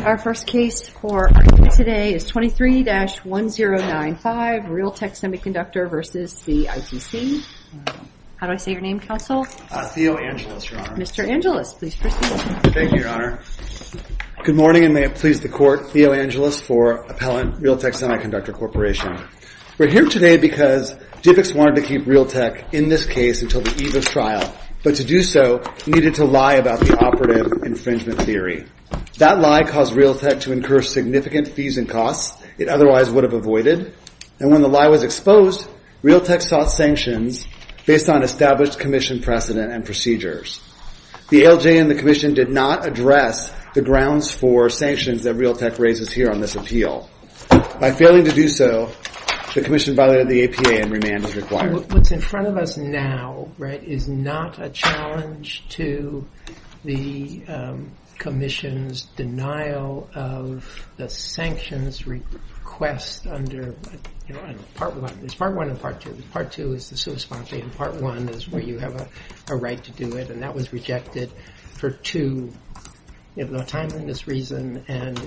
Our first case for today is 23-1095 Realtek Semiconductor versus the ITC. How do I say your name, counsel? Theo Angelis, your honor. Mr. Angelis, please proceed. Thank you, your honor. Good morning and may it please the court. Theo Angelis for Appellant Realtek Semiconductor Corporation. We're here today because DIVX wanted to keep Realtek in this case until the eve of trial, but to do so needed to lie about the operative infringement theory. That lie caused Realtek to incur significant fees and costs it otherwise would have avoided. And when the lie was exposed, Realtek sought sanctions based on established commission precedent and procedures. The ALJ and the commission did not address the grounds for sanctions that Realtek raises here on this appeal. By failing to do so, the commission violated the APA and remand is required. What's in front of us now, right, is not a challenge to the commission's denial of the sanctions request under, you know, part one. It's part one and part two. Part two is the sua sponte and part one is where you have a right to do it and that was rejected for two, you know, timeliness reason and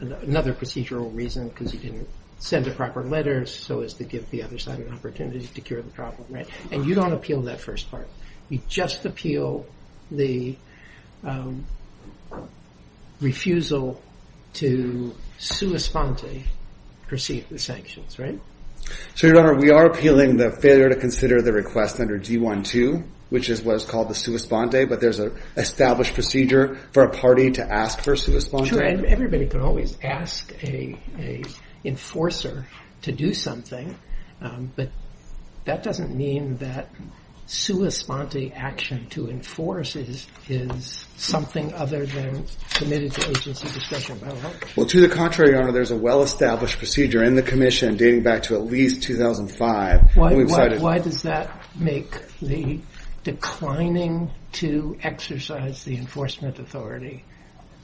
another procedural reason because you didn't send the proper letters so as to give the other side an opportunity to cure the problem, right? And you don't appeal that first part. You just appeal the refusal to sua sponte receive the sanctions, right? So your honor, we are appealing the failure to consider the request under D-1-2, which is what is called the sua sponte, but there's an established procedure for a party to ask for sua sponte. Sure, and everybody could always ask a enforcer to do something, but that doesn't mean that sua sponte action to enforce is something other than committed to agency discretion. Well, to the contrary, your honor, there's a well-established procedure in the commission dating back to at least 2005. Why does that make the declining to exercise the enforcement authority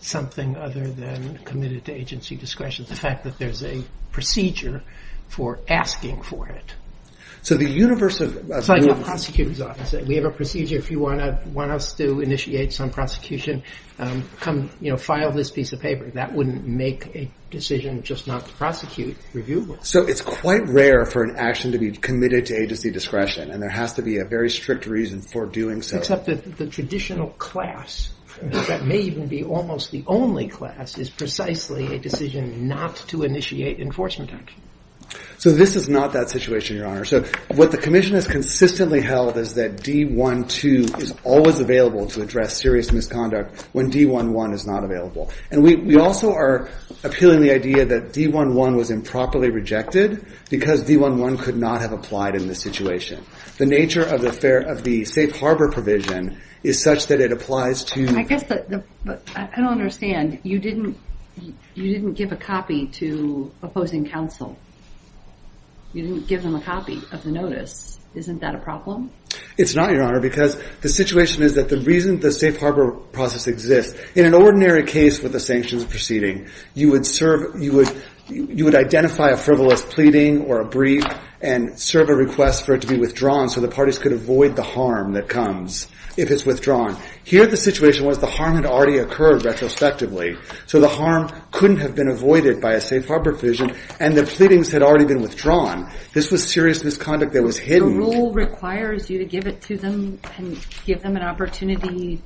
something other than committed to agency discretion? The re's a procedure for asking for it. So the universe of the prosecutor's office, we have a procedure if you want to want us to initiate some prosecution, come, you know, file this piece of paper that wouldn't make a decision just not to prosecute review. So it's quite rare for an action to be committed to agency discretion and there has to be a very strict reason for doing so. Except that the traditional class that may even be almost the only class is precisely a decision not to initiate enforcement action. So this is not that situation, your honor. So what the commission has consistently held is that D-1-2 is always available to address serious misconduct when D-1-1 is not available. And we also are appealing the idea that D-1-1 was improperly rejected because D-1-1 could not have applied in this situation. The nature of the safe harbor provision is such that it applies to... I guess, I don't understand, you didn't give a copy to opposing counsel. You didn't give them a copy of the notice. Isn't that a problem? It's not, your honor, because the situation is that the reason the safe harbor process exists, in an ordinary case with the sanctions proceeding, you would serve, you would identify a frivolous pleading or a brief and serve a request for it to be withdrawn so the parties could avoid the harm that comes if it's withdrawn. Here the situation was the harm had already occurred retrospectively, so the harm couldn't have been avoided by a safe harbor provision and the pleadings had already been withdrawn. This was serious misconduct that was hidden. The rule requires you to give it to them and give them an opportunity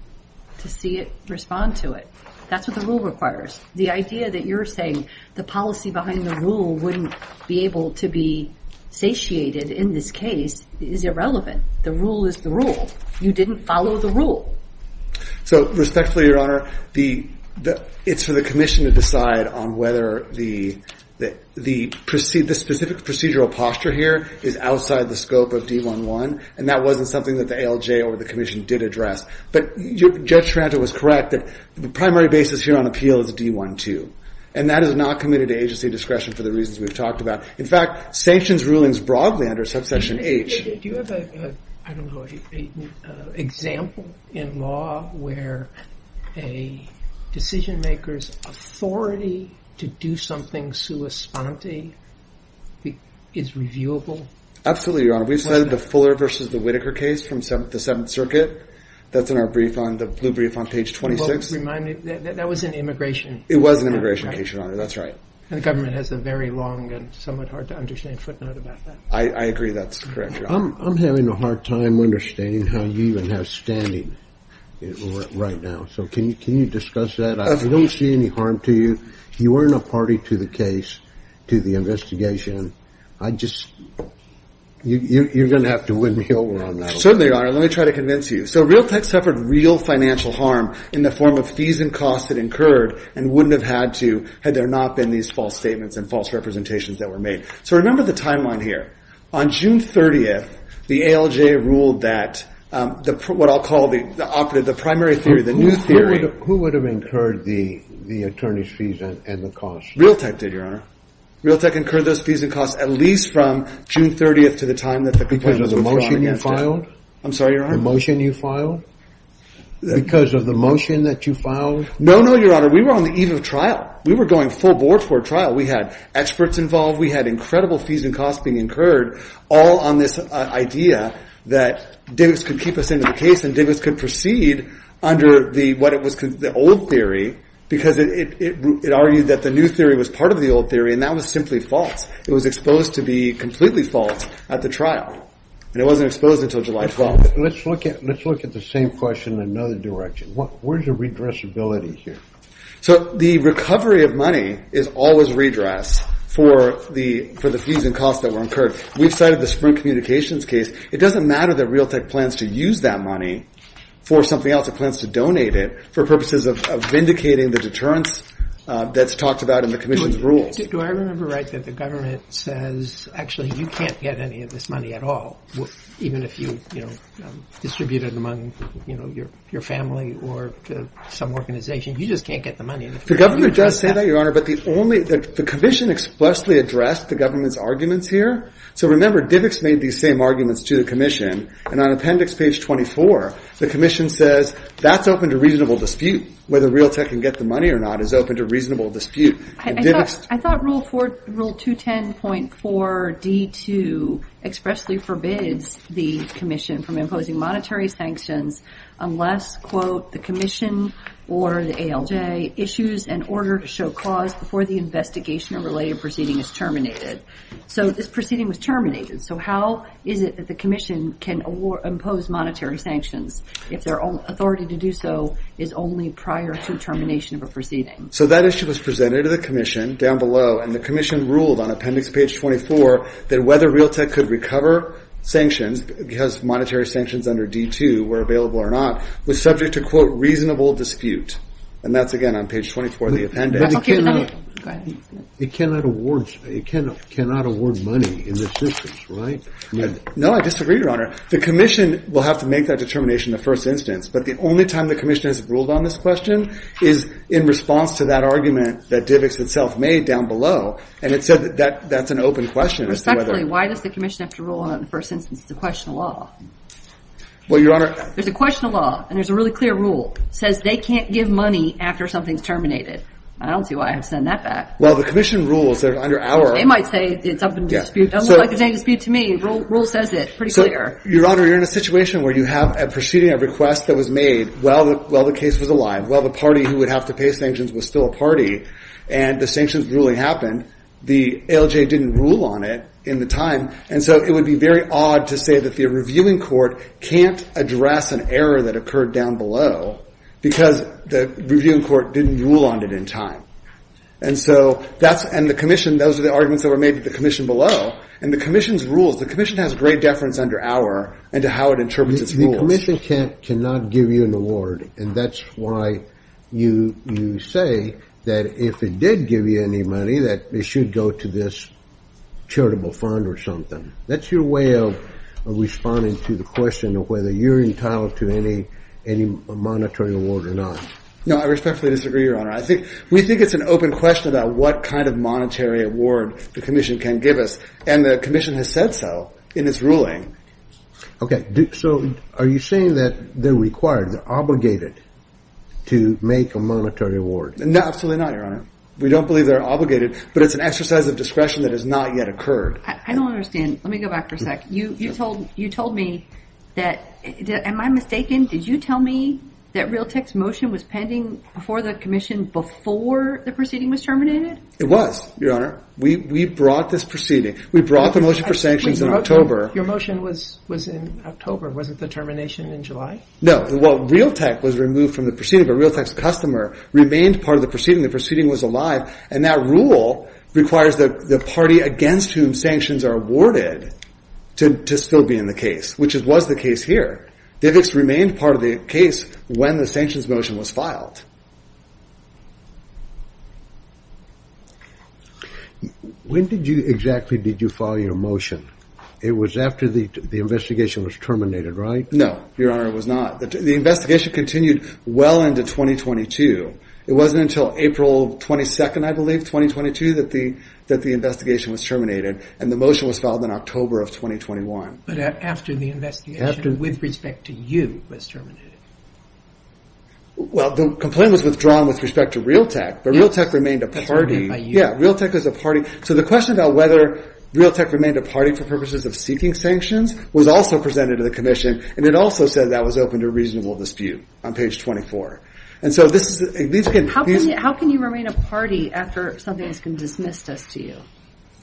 to see it, respond to it. That's what the rule requires. The idea that you're saying the policy behind the rule wouldn't be able to be satiated in this case is irrelevant. The rule is the rule. You didn't follow the rule. So, respectfully, your honor, it's for the commission to decide on whether the specific procedural posture here is outside the scope of D-1-1 and that wasn't something that the ALJ or the commission did address. But Judge Taranto was correct that the primary basis here on appeal is D-1-2 and that is not committed to agency discretion for the reasons we've talked about. In fact, sanctions rulings broadly under subsection H... Do you have a, I don't know, an example in law where a decision maker's authority to do something sua sponte is reviewable? Absolutely, your honor. We've cited the Fuller versus the Whitaker case from the Seventh Circuit. That's in our brief on the blue brief on page 26. Remind me, that was an immigration... It was an immigration case, your honor. That's right. The government has a very long and somewhat hard to understand footnote about that. I agree that's correct, your honor. I'm having a hard time understanding how you even have standing right now. So, can you discuss that? I don't see any harm to you. You weren't a party to the case, to the investigation. I just, you're going to have to win me over on that. Certainly, your honor. Let me try to convince you. So, Realtek suffered real financial harm in the form of fees and costs that incurred and wouldn't have had to had there not been these false statements and false representations that were made. So, remember the timeline here. On June 30th, the ALJ ruled that, what I'll call the primary theory, the new theory... Who would have incurred the attorney's fees and the costs? Realtek did, your honor. Realtek incurred those fees and costs at least from June 30th to the time that the complaint was withdrawn against it. Because of the motion you filed? I'm sorry, your honor? The motion you filed? Because of the motion that you filed? No, no, your honor. We were on the eve of trial. We were going full board for a trial. We had experts involved. We had incredible fees and costs being incurred all on this idea that Davis could keep us into the case and Davis could proceed under the old theory because it argued that the new theory was part of the old theory and that was simply false. It was exposed to be completely false at the trial and it wasn't exposed until July 12th. Let's look at the same question in another direction. Where's the redressability here? So the recovery of money is always redress for the fees and costs that were incurred. We've cited the Sprint Communications case. It doesn't matter that Realtek plans to use that money for something else. It plans to donate it for purposes of vindicating the deterrence that's talked about in the commission's rules. Do I remember right that the government says, actually, you can't get any of this money at all even if you distribute it among your family or some organization? You just can't get the money. The government does say that, your honor, but the commission expressly addressed the government's arguments here. So remember, Divix made these same arguments to the commission and on appendix page 24, the commission says that's open to reasonable dispute whether Realtek can get the money or not is open to reasonable dispute. I thought rule 210.4d2 expressly forbids the commission from imposing monetary sanctions unless, quote, the commission or the ALJ issues an order to show cause before the investigation or related proceeding is terminated. So this proceeding was terminated. So how is it that the commission can impose monetary sanctions if their own authority to do so is only prior to termination of a proceeding? So that issue was presented to the commission down below and the commission ruled on appendix page 24 that whether Realtek could recover sanctions because monetary sanctions under d2 were available or not was subject to, quote, reasonable dispute. And that's, again, on page 24 of the appendix. It cannot award money in this instance, right? No, I disagree, your honor. The commission will have to make that determination in the first instance, but the only time the commission has ruled on this question is in response to that argument that Divix itself made down below. And it said that that's an open question. Respectfully, why does the commission have to rule on it in the first instance? It's a question of law. Well, your honor. There's a question of law and there's a really clear rule. It says they can't give money after something's terminated. I don't see why I have to send that back. Well, the commission rules that are under our- They might say it's up in dispute. It doesn't look like there's any dispute to me. Rule says it pretty clear. Your honor, you're in a situation where you have a proceeding, a request that was made while the case was alive, while the party who would have to pay sanctions was still a party and the sanctions ruling happened, the ALJ didn't rule on it in the time. And so it would be very odd to say that the reviewing court can't address an error that occurred down below because the reviewing court didn't rule on it in time. And so that's- and the commission, those are the arguments that were made to the commission below. And the commission's rules, the commission has great deference under our and to how it interprets its rules. The commission cannot give you an award. And that's why you say that if it did give you any money, that it should go to this charitable fund or something. That's your way of responding to the question of whether you're entitled to any monetary award or not. No, I respectfully disagree, your honor. I think- we think it's an open question about what kind of monetary award the commission can give us. And the commission has said so in its ruling. Okay. So are you saying that they're required, they're obligated to make a monetary award? Absolutely not, your honor. We don't believe they're obligated, but it's an exercise of discretion that has not yet occurred. I don't understand. Let me go back for a sec. You told me that- am I mistaken? Did you tell me that Realtek's motion was pending before the commission, before the proceeding was terminated? It was, your honor. We brought this proceeding. We brought the motion for sanctions in October. Your motion was in October. Was it the termination in July? No. Well, Realtek was removed from the proceeding, but Realtek's customer remained part of the proceeding. The proceeding was alive. And that rule requires the party against whom sanctions are awarded to still be in the case, which was the case here. Divix remained part of the case when the sanctions motion was filed. When did you exactly, did you file your motion? It was after the investigation was terminated, right? No, your honor, it was not. The investigation continued well into 2022. It wasn't until April 22nd, I believe, 2022, that the investigation was terminated and the motion was filed in October of 2021. But after the investigation, with respect to you, was terminated. Well, the complaint was withdrawn with respect to Realtek, but Realtek remained a party. That's what I meant by you. Yeah, Realtek was a party. So the question about whether Realtek remained a party for purposes of seeking sanctions was also presented to the commission. And it also said that was open to a reasonable dispute on page 24. And so this is, these can... How can you remain a party after something has been dismissed as to you?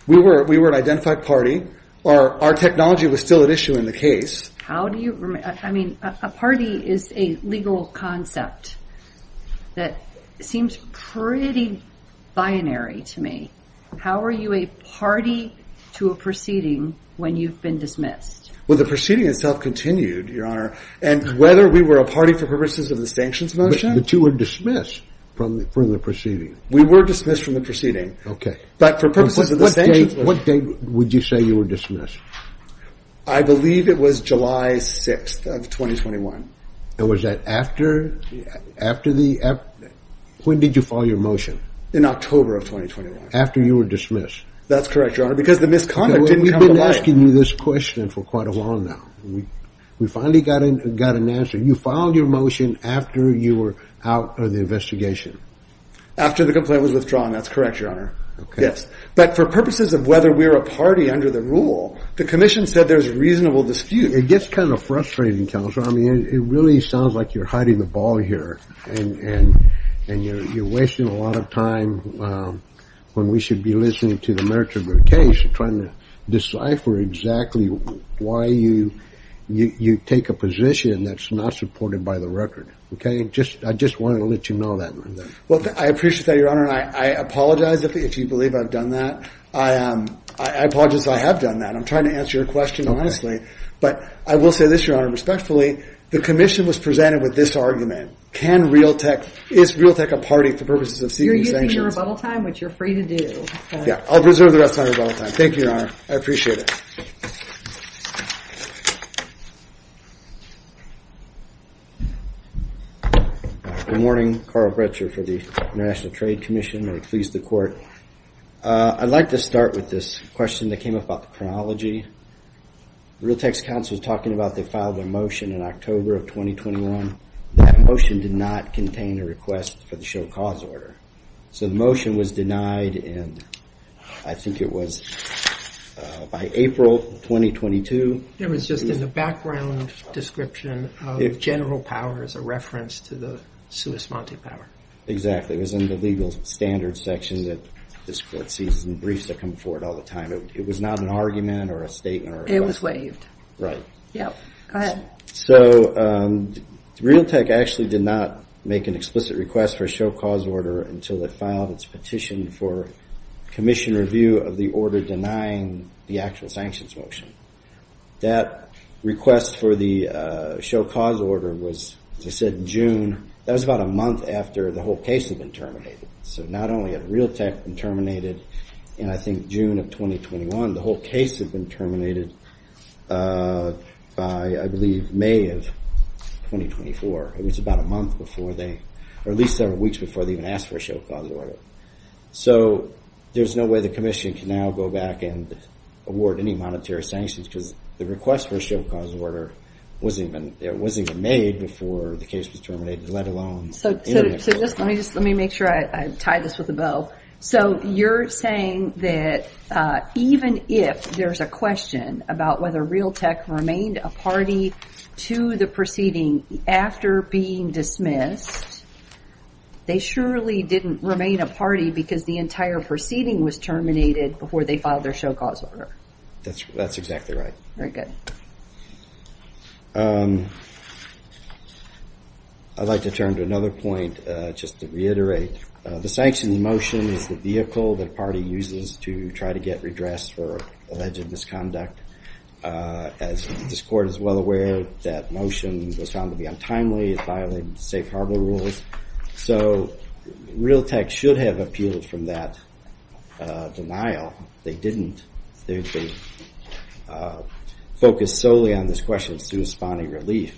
We were an identified party. Our technology was still at issue in the case. How do you, I mean, a party is a legal concept that seems pretty binary to me. How are you a party to a proceeding when you've been dismissed? Well, the proceeding itself continued, your honor. And whether we were a party for purposes of the sanctions motion... The two were dismissed from the proceeding. We were dismissed from the proceeding. Okay. But for purposes of the sanctions... What date would you say you were dismissed? I believe it was July 6th of 2021. And was that after the... When did you file your motion? In October of 2021. After you were dismissed? That's correct, your honor. Because the misconduct didn't come to light. We've been asking you this question for quite a while now. We finally got an answer. You filed your motion after you were out of the investigation? After the complaint was withdrawn. That's correct, your honor. Okay. But for purposes of whether we're a party under the rule, the commission said there's reasonable dispute. It gets kind of frustrating, counsel. I mean, it really sounds like you're hiding the ball here. And you're wasting a lot of time when we should be listening to the merits of your case, trying to decipher exactly why you take a position that's not supported by the record. Okay. I just wanted to let you know that. Well, I appreciate that, your honor. And I apologize if you believe I've done that. I apologize that I have done that. I'm trying to answer your question honestly. But I will say this, your honor, respectfully, the commission was presented with this argument. Can Realtek... Is Realtek a party for purposes of seeking sanctions? You're using your rebuttal time, which you're free to do. Yeah. I'll preserve the rest of my rebuttal time. Thank you, your honor. I appreciate it. Good morning. Carl Bretscher for the International Trade Commission, or at least the court. I'd like to start with this question that came up about the chronology. Realtek's counsel was talking about they filed a motion in October of 2021. That motion did not contain a request for the show cause order. So the motion was denied. And I think it was by April 2022. It was just in the background description of general powers, a reference to the sui sponte power. Exactly. It was in the legal standards section that this court sees in briefs that come forward all the time. It was not an argument or a statement. It was waived. Right. Yep. Go ahead. So Realtek actually did not make an explicit request for a show cause order until it filed its petition for commission review of the order denying the actual sanctions motion. That request for the show cause order was, as I said, June. That was about a month after the whole case had been terminated. So not only had Realtek been terminated in, I think, June of 2021, the whole case had been terminated by, I believe, May of 2024. It was about a month before they, or at least several weeks before they even asked for a show cause order. So there's no way the commission can now go back and award any monetary sanctions because the request for a show cause order wasn't even made before the case was terminated, let alone... So just let me just let me make sure I tie this with a bow. So you're saying that even if there's a question about whether Realtek remained a party to the proceeding after being dismissed, they surely didn't remain a party because the entire proceeding was terminated before they filed their show cause order. That's exactly right. Very good. I'd like to turn to another point just to reiterate. The sanctioned motion is the vehicle the party uses to try to get redress for alleged misconduct. As this court is well aware, that motion was found to be untimely. It violated safe harbor rules. So Realtek should have appealed from that denial. They didn't. They focused solely on this question of responding relief.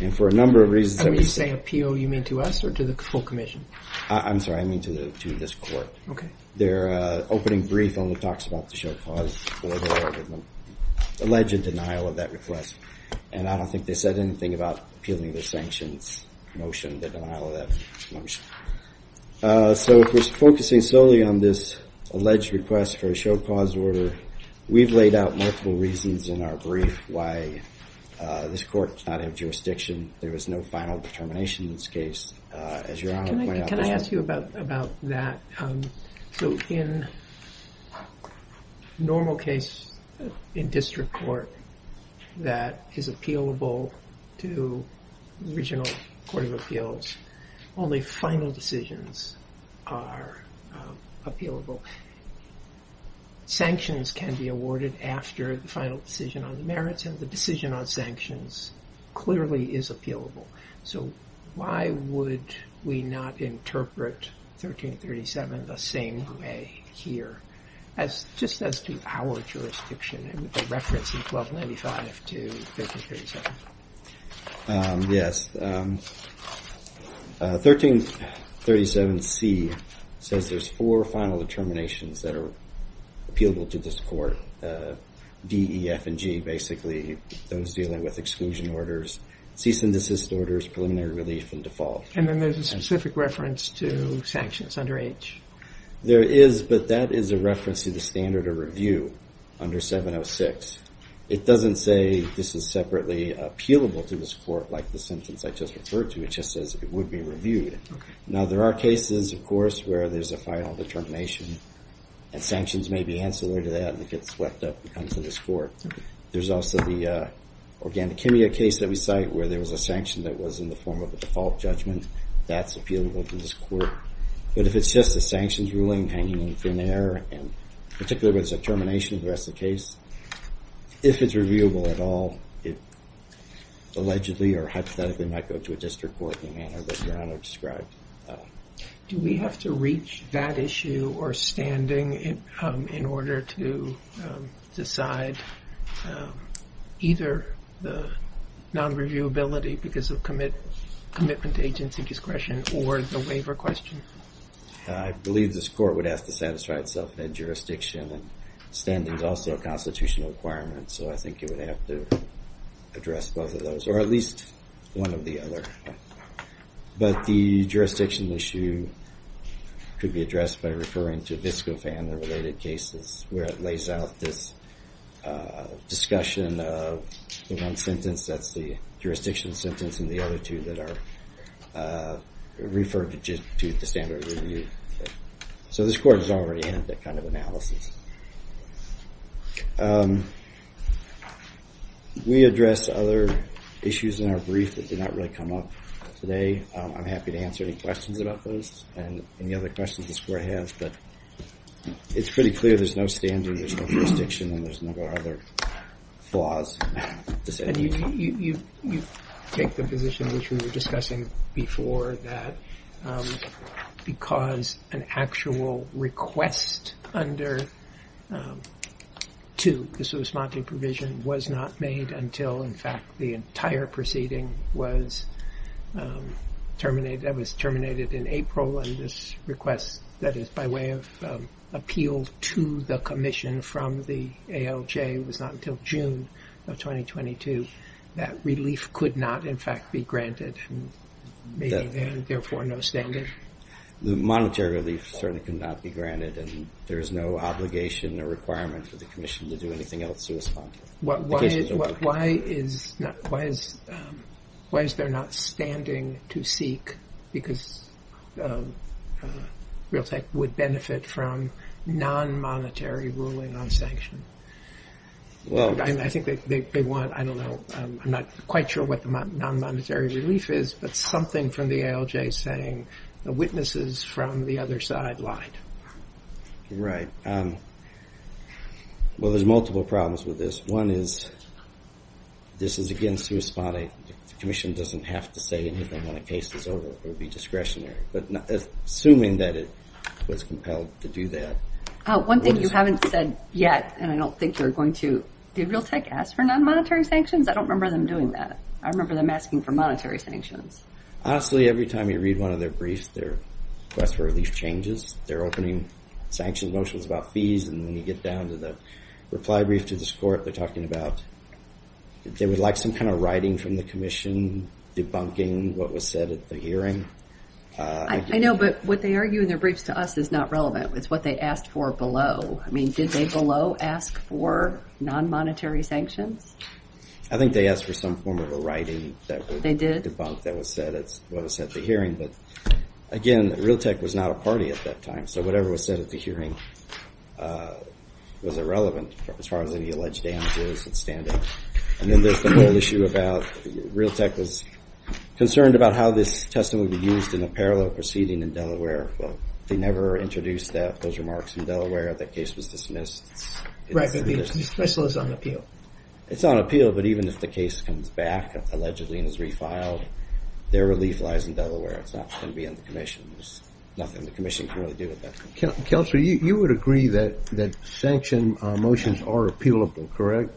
And for a number of reasons... When you say appeal, you mean to us or to the full commission? I'm sorry. I mean to this court. Okay. Their opening brief only talks about the show cause order, the alleged denial of that request. And I don't think they said anything about appealing the sanctions motion, the denial of that motion. So if we're focusing solely on this alleged request for a show cause order, we've laid out multiple reasons in our brief why this court does not have jurisdiction. There was no final determination in this case. Can I ask you about that? So in normal case in district court that is appealable to the regional court of appeals, only final decisions are appealable. Sanctions can be awarded after the final decision on the merits. And the decision on sanctions clearly is appealable. So why would we not interpret 1337 the same way here? As just as to our jurisdiction and with the reference in 1295 to 1337. Yes. 1337 C says there's four final determinations that are appealable to this court. D, E, F, and G, basically those dealing with exclusion orders, cease and desist orders, preliminary relief, and default. And then there's a specific reference to sanctions under H. There is, but that is a reference to the standard of review under 706. It doesn't say this is separately appealable to this court like the sentence I just referred to. It just says it would be reviewed. Now there are cases of course where there's a final determination and sanctions may be ancillary to that and it gets swept up and comes to this court. There's also the Organicemia case that we cite where there was a sanction that was in the form of a default judgment. That's appealable to this court. But if it's just a sanctions ruling hanging in thin air and particularly there's a termination of the rest of the case, if it's reviewable at all, it allegedly or hypothetically might go to a district court in the manner that Your Honor described. Do we have to reach that issue or standing in order to decide either the non-reviewability because of commitment to agency discretion or the waiver question? I believe this court would have to satisfy itself in that jurisdiction and standing is also a constitutional requirement. So I think you would have to address both of those or at least one of the other. But the jurisdiction issue could be addressed by referring to VSCOFAN, the related cases where it lays out this discussion of the one sentence that's the jurisdiction sentence and the other two that are referred to the standard review. So this court is already in that kind of analysis. We address other issues in our brief that did not really come up today. I'm happy to answer any questions about those and any other questions this court has. But it's pretty clear there's no standard. There's no jurisdiction. And there's no other flaws. And you take the position which we were discussing before that because an actual request under to the sui smante provision was not made until, in fact, the entire proceeding was terminated. That was terminated in April. And this request that is by way of appeal to the commission from the ALJ was not until June of 2022. That relief could not, in fact, be granted and therefore no standard. The monetary relief certainly could not be granted. And there is no obligation or requirement for the commission to do anything else to respond. Why is there not standing to seek? Because Realtek would benefit from non-monetary ruling on sanction. Well, I think they want, I don't know. I'm not quite sure what the non-monetary relief is. But something from the ALJ saying the witnesses from the other side lied. Right. Well, there's multiple problems with this. One is this is against sui spante. The commission doesn't have to say anything when a case is over. It would be discretionary. But assuming that it was compelled to do that. One thing you haven't said yet, and I don't think you're going to. Did Realtek ask for non-monetary sanctions? I don't remember them doing that. I remember them asking for monetary sanctions. Honestly, every time you read one of their briefs, their request for relief changes. They're opening sanctions motions about fees. And when you get down to the reply brief to this court, they're talking about they would like some kind of writing from the commission debunking what was said at the hearing. I know. But what they argue in their briefs to us is not relevant. It's what they asked for below. I mean, did they below ask for non-monetary sanctions? I think they asked for some form of a writing that would debunk what was said at the hearing. But again, Realtek was not a party at that time. So whatever was said at the hearing was irrelevant as far as any alleged damages and standing. And then there's the whole issue about Realtek was concerned about how this testimony would be used in a parallel proceeding in Delaware. They never introduced those remarks in Delaware. That case was dismissed. Right, but the dismissal is on appeal. It's on appeal. But even if the case comes back, allegedly, and is refiled, their relief lies in Delaware. It's not going to be in the commission. There's nothing the commission can really do with that. Counselor, you would agree that sanction motions are appealable, correct?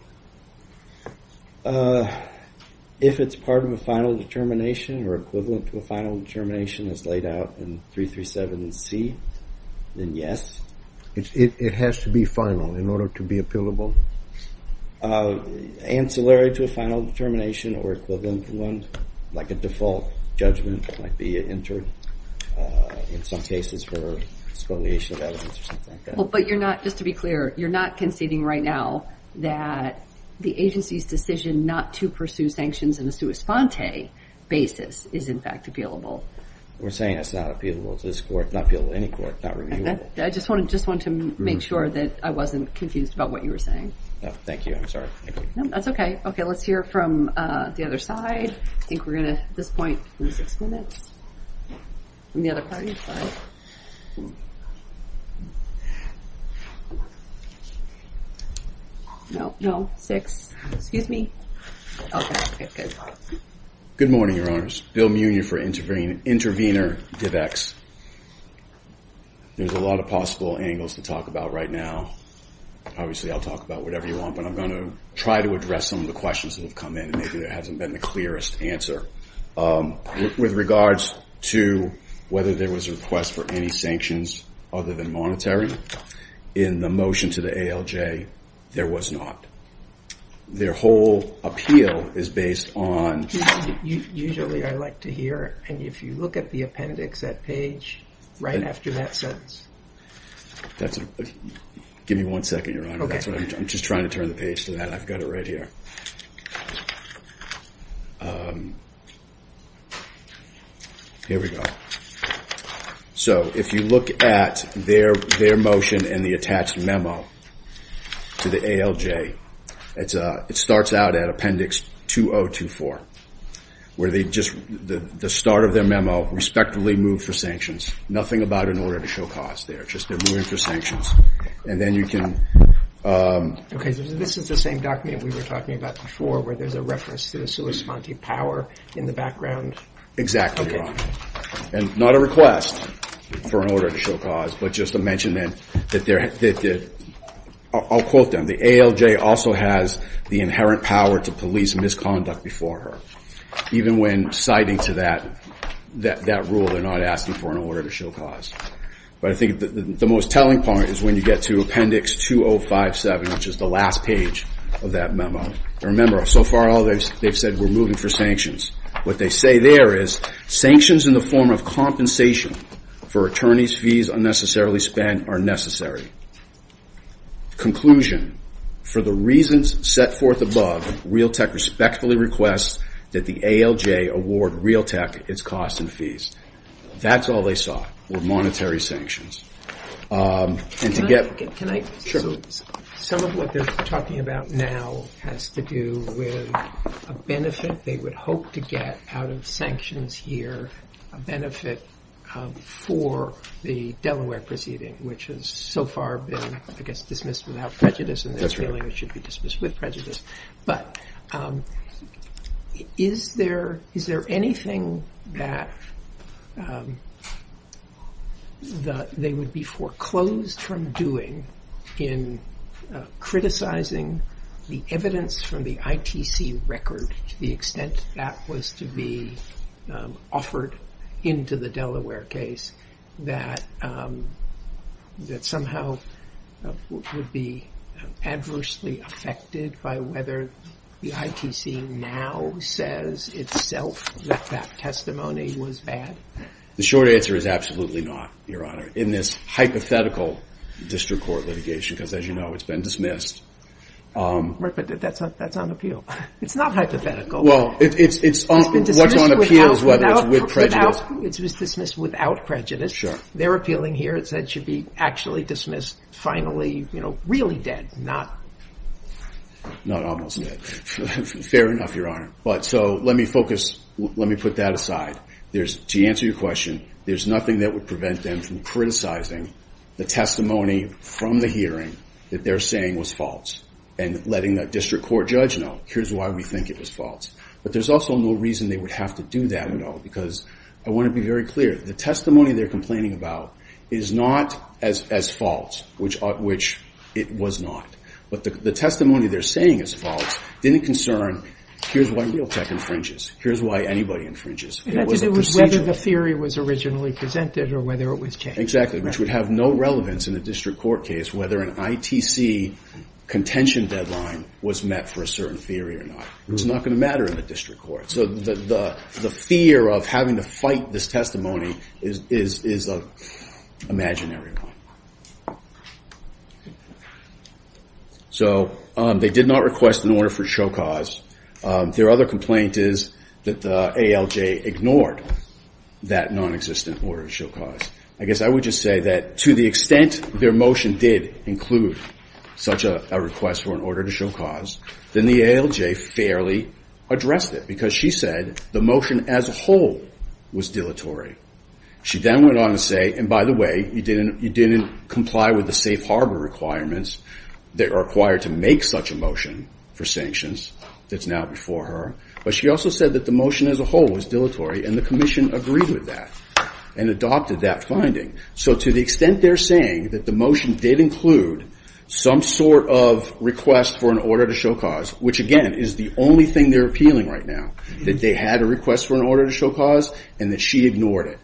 If it's part of a final determination or equivalent to a final determination as laid out in 337C, then yes. It has to be final in order to be appealable? Ancillary to a final determination or equivalent to one, like a default judgment might be entered in some cases for disqualification of evidence or something like that. But you're not, just to be clear, you're not conceding right now that the agency's decision not to pursue sanctions in a sua sponte basis is in fact appealable? We're saying it's not appealable to this court. Not appealable to any court. Not reviewable. I just wanted to make sure that I wasn't confused about what you were saying. Thank you. No, that's okay. Okay, let's hear from the other side. I think we're going to, at this point, six minutes from the other party. No, no, six. Excuse me. Okay, good. Good morning, Your Honors. Bill Munier for Intervenor DivX. There's a lot of possible angles to talk about right now. Obviously, I'll talk about whatever you want, but I'm going to try to address some of the questions that have come in and maybe there hasn't been the clearest answer. With regards to whether there was a request for any sanctions other than monetary in the motion to the ALJ, there was not. Their whole appeal is based on... Usually, I like to hear it. And if you look at the appendix, that page, right after that sentence... Give me one second, Your Honor. Okay. I'm just trying to turn the page to that. I've got it right here. Here we go. Okay. So, if you look at their motion and the attached memo to the ALJ, it starts out at appendix 2024, where they just... The start of their memo, respectfully moved for sanctions. Nothing about an order to show cause there. Just they're moving for sanctions. And then you can... Okay. This is the same document we were talking about before, where there's a reference to the sui sponte power in the background? Exactly, Your Honor. And not a request for an order to show cause, but just a mention that they're... I'll quote them. The ALJ also has the inherent power to police misconduct before her. Even when citing to that rule, they're not asking for an order to show cause. But I think the most telling part is when you get to appendix 2057, which is the last page of that memo. Remember, so far, all they've said, we're moving for sanctions. What they say there is, sanctions in the form of compensation for attorney's fees unnecessarily spent are necessary. Conclusion, for the reasons set forth above, Realtek respectfully requests that the ALJ award Realtek its costs and fees. That's all they saw, were monetary sanctions. And to get... Some of what they're talking about now has to do with a benefit. They would hope to get out of sanctions here, a benefit for the Delaware proceeding, which has so far been, I guess, dismissed without prejudice, and they're feeling it should be dismissed with prejudice. But is there anything that they would be foreclosed from doing in criticizing the evidence from the ITC record, to the extent that was to be offered into the Delaware case, that somehow would be adversely affected by whether the ITC now says itself that that testimony was bad? The short answer is absolutely not, Your Honor. In this hypothetical district court litigation, because as you know, it's been dismissed... Right, but that's on appeal. It's not hypothetical. Well, it's on appeal whether it's with prejudice. It was dismissed without prejudice. Sure. They're appealing here. It said it should be actually dismissed finally, you know, really dead, not... Not almost dead. Fair enough, Your Honor. But so let me focus, let me put that aside. There's, to answer your question, there's nothing that would prevent them from criticizing the testimony from the hearing that they're saying was false, and letting that district court judge know, here's why we think it was false. But there's also no reason they would have to do that at all, because I want to be very clear. The testimony they're complaining about is not as false, which it was not. But the testimony they're saying is false didn't concern, here's why Realtek infringes, here's why anybody infringes. It had to do with whether the theory was originally presented or whether it was changed. Exactly, which would have no relevance in a district court case whether an ITC contention deadline was met for a certain theory or not. It was not going to matter in the district court. So the fear of having to fight this testimony is an imaginary one. So they did not request an order for show cause. Their other complaint is that the ALJ ignored that non-existent order to show cause. I guess I would just say that to the extent their motion did include such a request for an order to show cause, then the ALJ fairly addressed it. Because she said the motion as a whole was dilatory. She then went on to say, and by the way, you didn't comply with the safe harbor requirements that are required to make such a motion for sanctions that's now before her. But she also said that the motion as a whole was dilatory, and the commission agreed with that and adopted that finding. So to the extent they're saying that the motion did include some sort of request for an order to show cause, which again is the only thing they're appealing right now, that they had a request for an order to show cause and that she ignored it.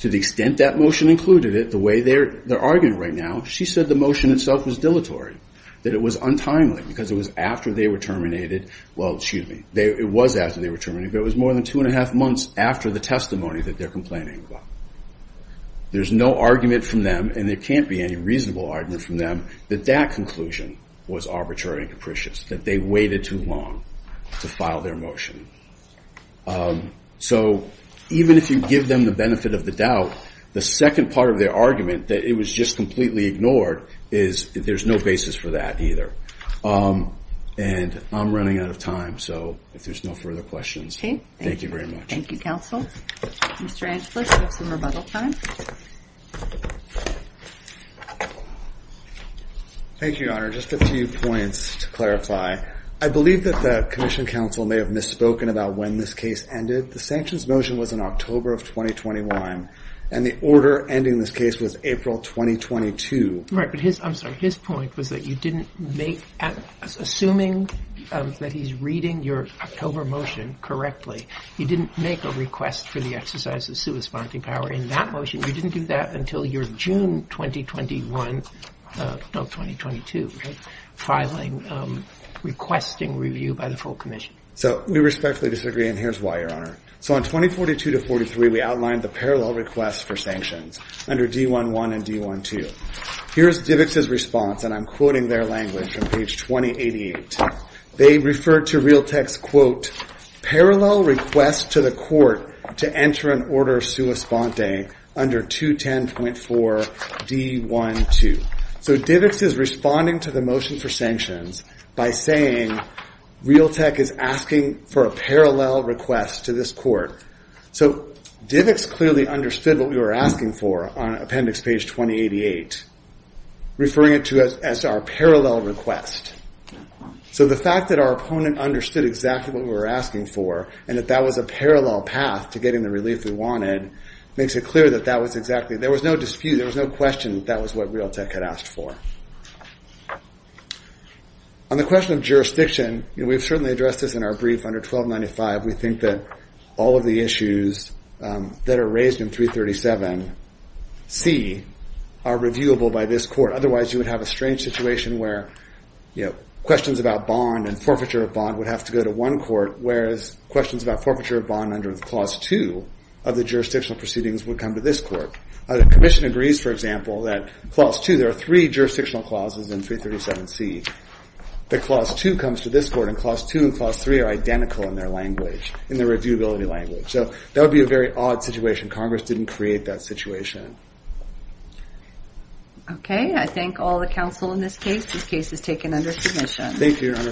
To the extent that motion included it, the way they're arguing right now, she said the motion itself was dilatory, that it was untimely because it was after they were terminated. Well, excuse me, it was after they were terminated, but it was more than two and a half months after the testimony that they're complaining about. There's no argument from them, and there can't be any reasonable argument from them, that that conclusion was arbitrary and capricious, that they waited too long to file their motion. So even if you give them the benefit of the doubt, the second part of their argument, that it was just completely ignored, is there's no basis for that either. And I'm running out of time, so if there's no further questions, thank you very much. Thank you, counsel. Mr. Antwish, you have some rebuttal time. Thank you, Your Honor. Just a few points to clarify. I believe that the commission counsel may have misspoken about when this case ended. The sanctions motion was in October of 2021, and the order ending this case was April 2022. Right, but his, I'm sorry, his point was that you didn't make, assuming that he's reading your October motion correctly, you didn't make a request for the exercise of supersponding power in that motion. You didn't do that until your June 2021, no, 2022 filing, requesting review by the full commission. So we respectfully disagree, and here's why, Your Honor. So on 2042 to 43, we outlined the parallel request for sanctions under D-1-1 and D-1-2. Here's DIVX's response, and I'm quoting their language from page 2088. They refer to Realtek's, quote, parallel request to the court to enter an order suesponding under 210.4 D-1-2. So DIVX is responding to the motion for sanctions by saying Realtek is asking for a parallel request to this court. So DIVX clearly understood what we were asking for on appendix page 2088, referring it to as our parallel request. So the fact that our opponent understood exactly what we were asking for and that that was a parallel path to getting the relief we wanted makes it clear that that was exactly, there was no dispute, there was no question that that was what Realtek had asked for. On the question of jurisdiction, we've certainly addressed this in our brief under 1295. We think that all of the issues that are raised in 337C are reviewable by this court. Otherwise, you would have a strange situation where questions about bond and forfeiture of bond would have to go to one court, whereas questions about forfeiture of bond under Clause 2 of the jurisdictional proceedings would come to this court. The commission agrees, for example, that Clause 2, there are three jurisdictional clauses in 337C, that Clause 2 comes to this court, and Clause 2 and Clause 3 are identical in their language, in the reviewability language. So that would be a very odd situation. Congress didn't create that situation. Okay, I thank all the counsel in this case. This case is taken under submission. Thank you, Your Honor.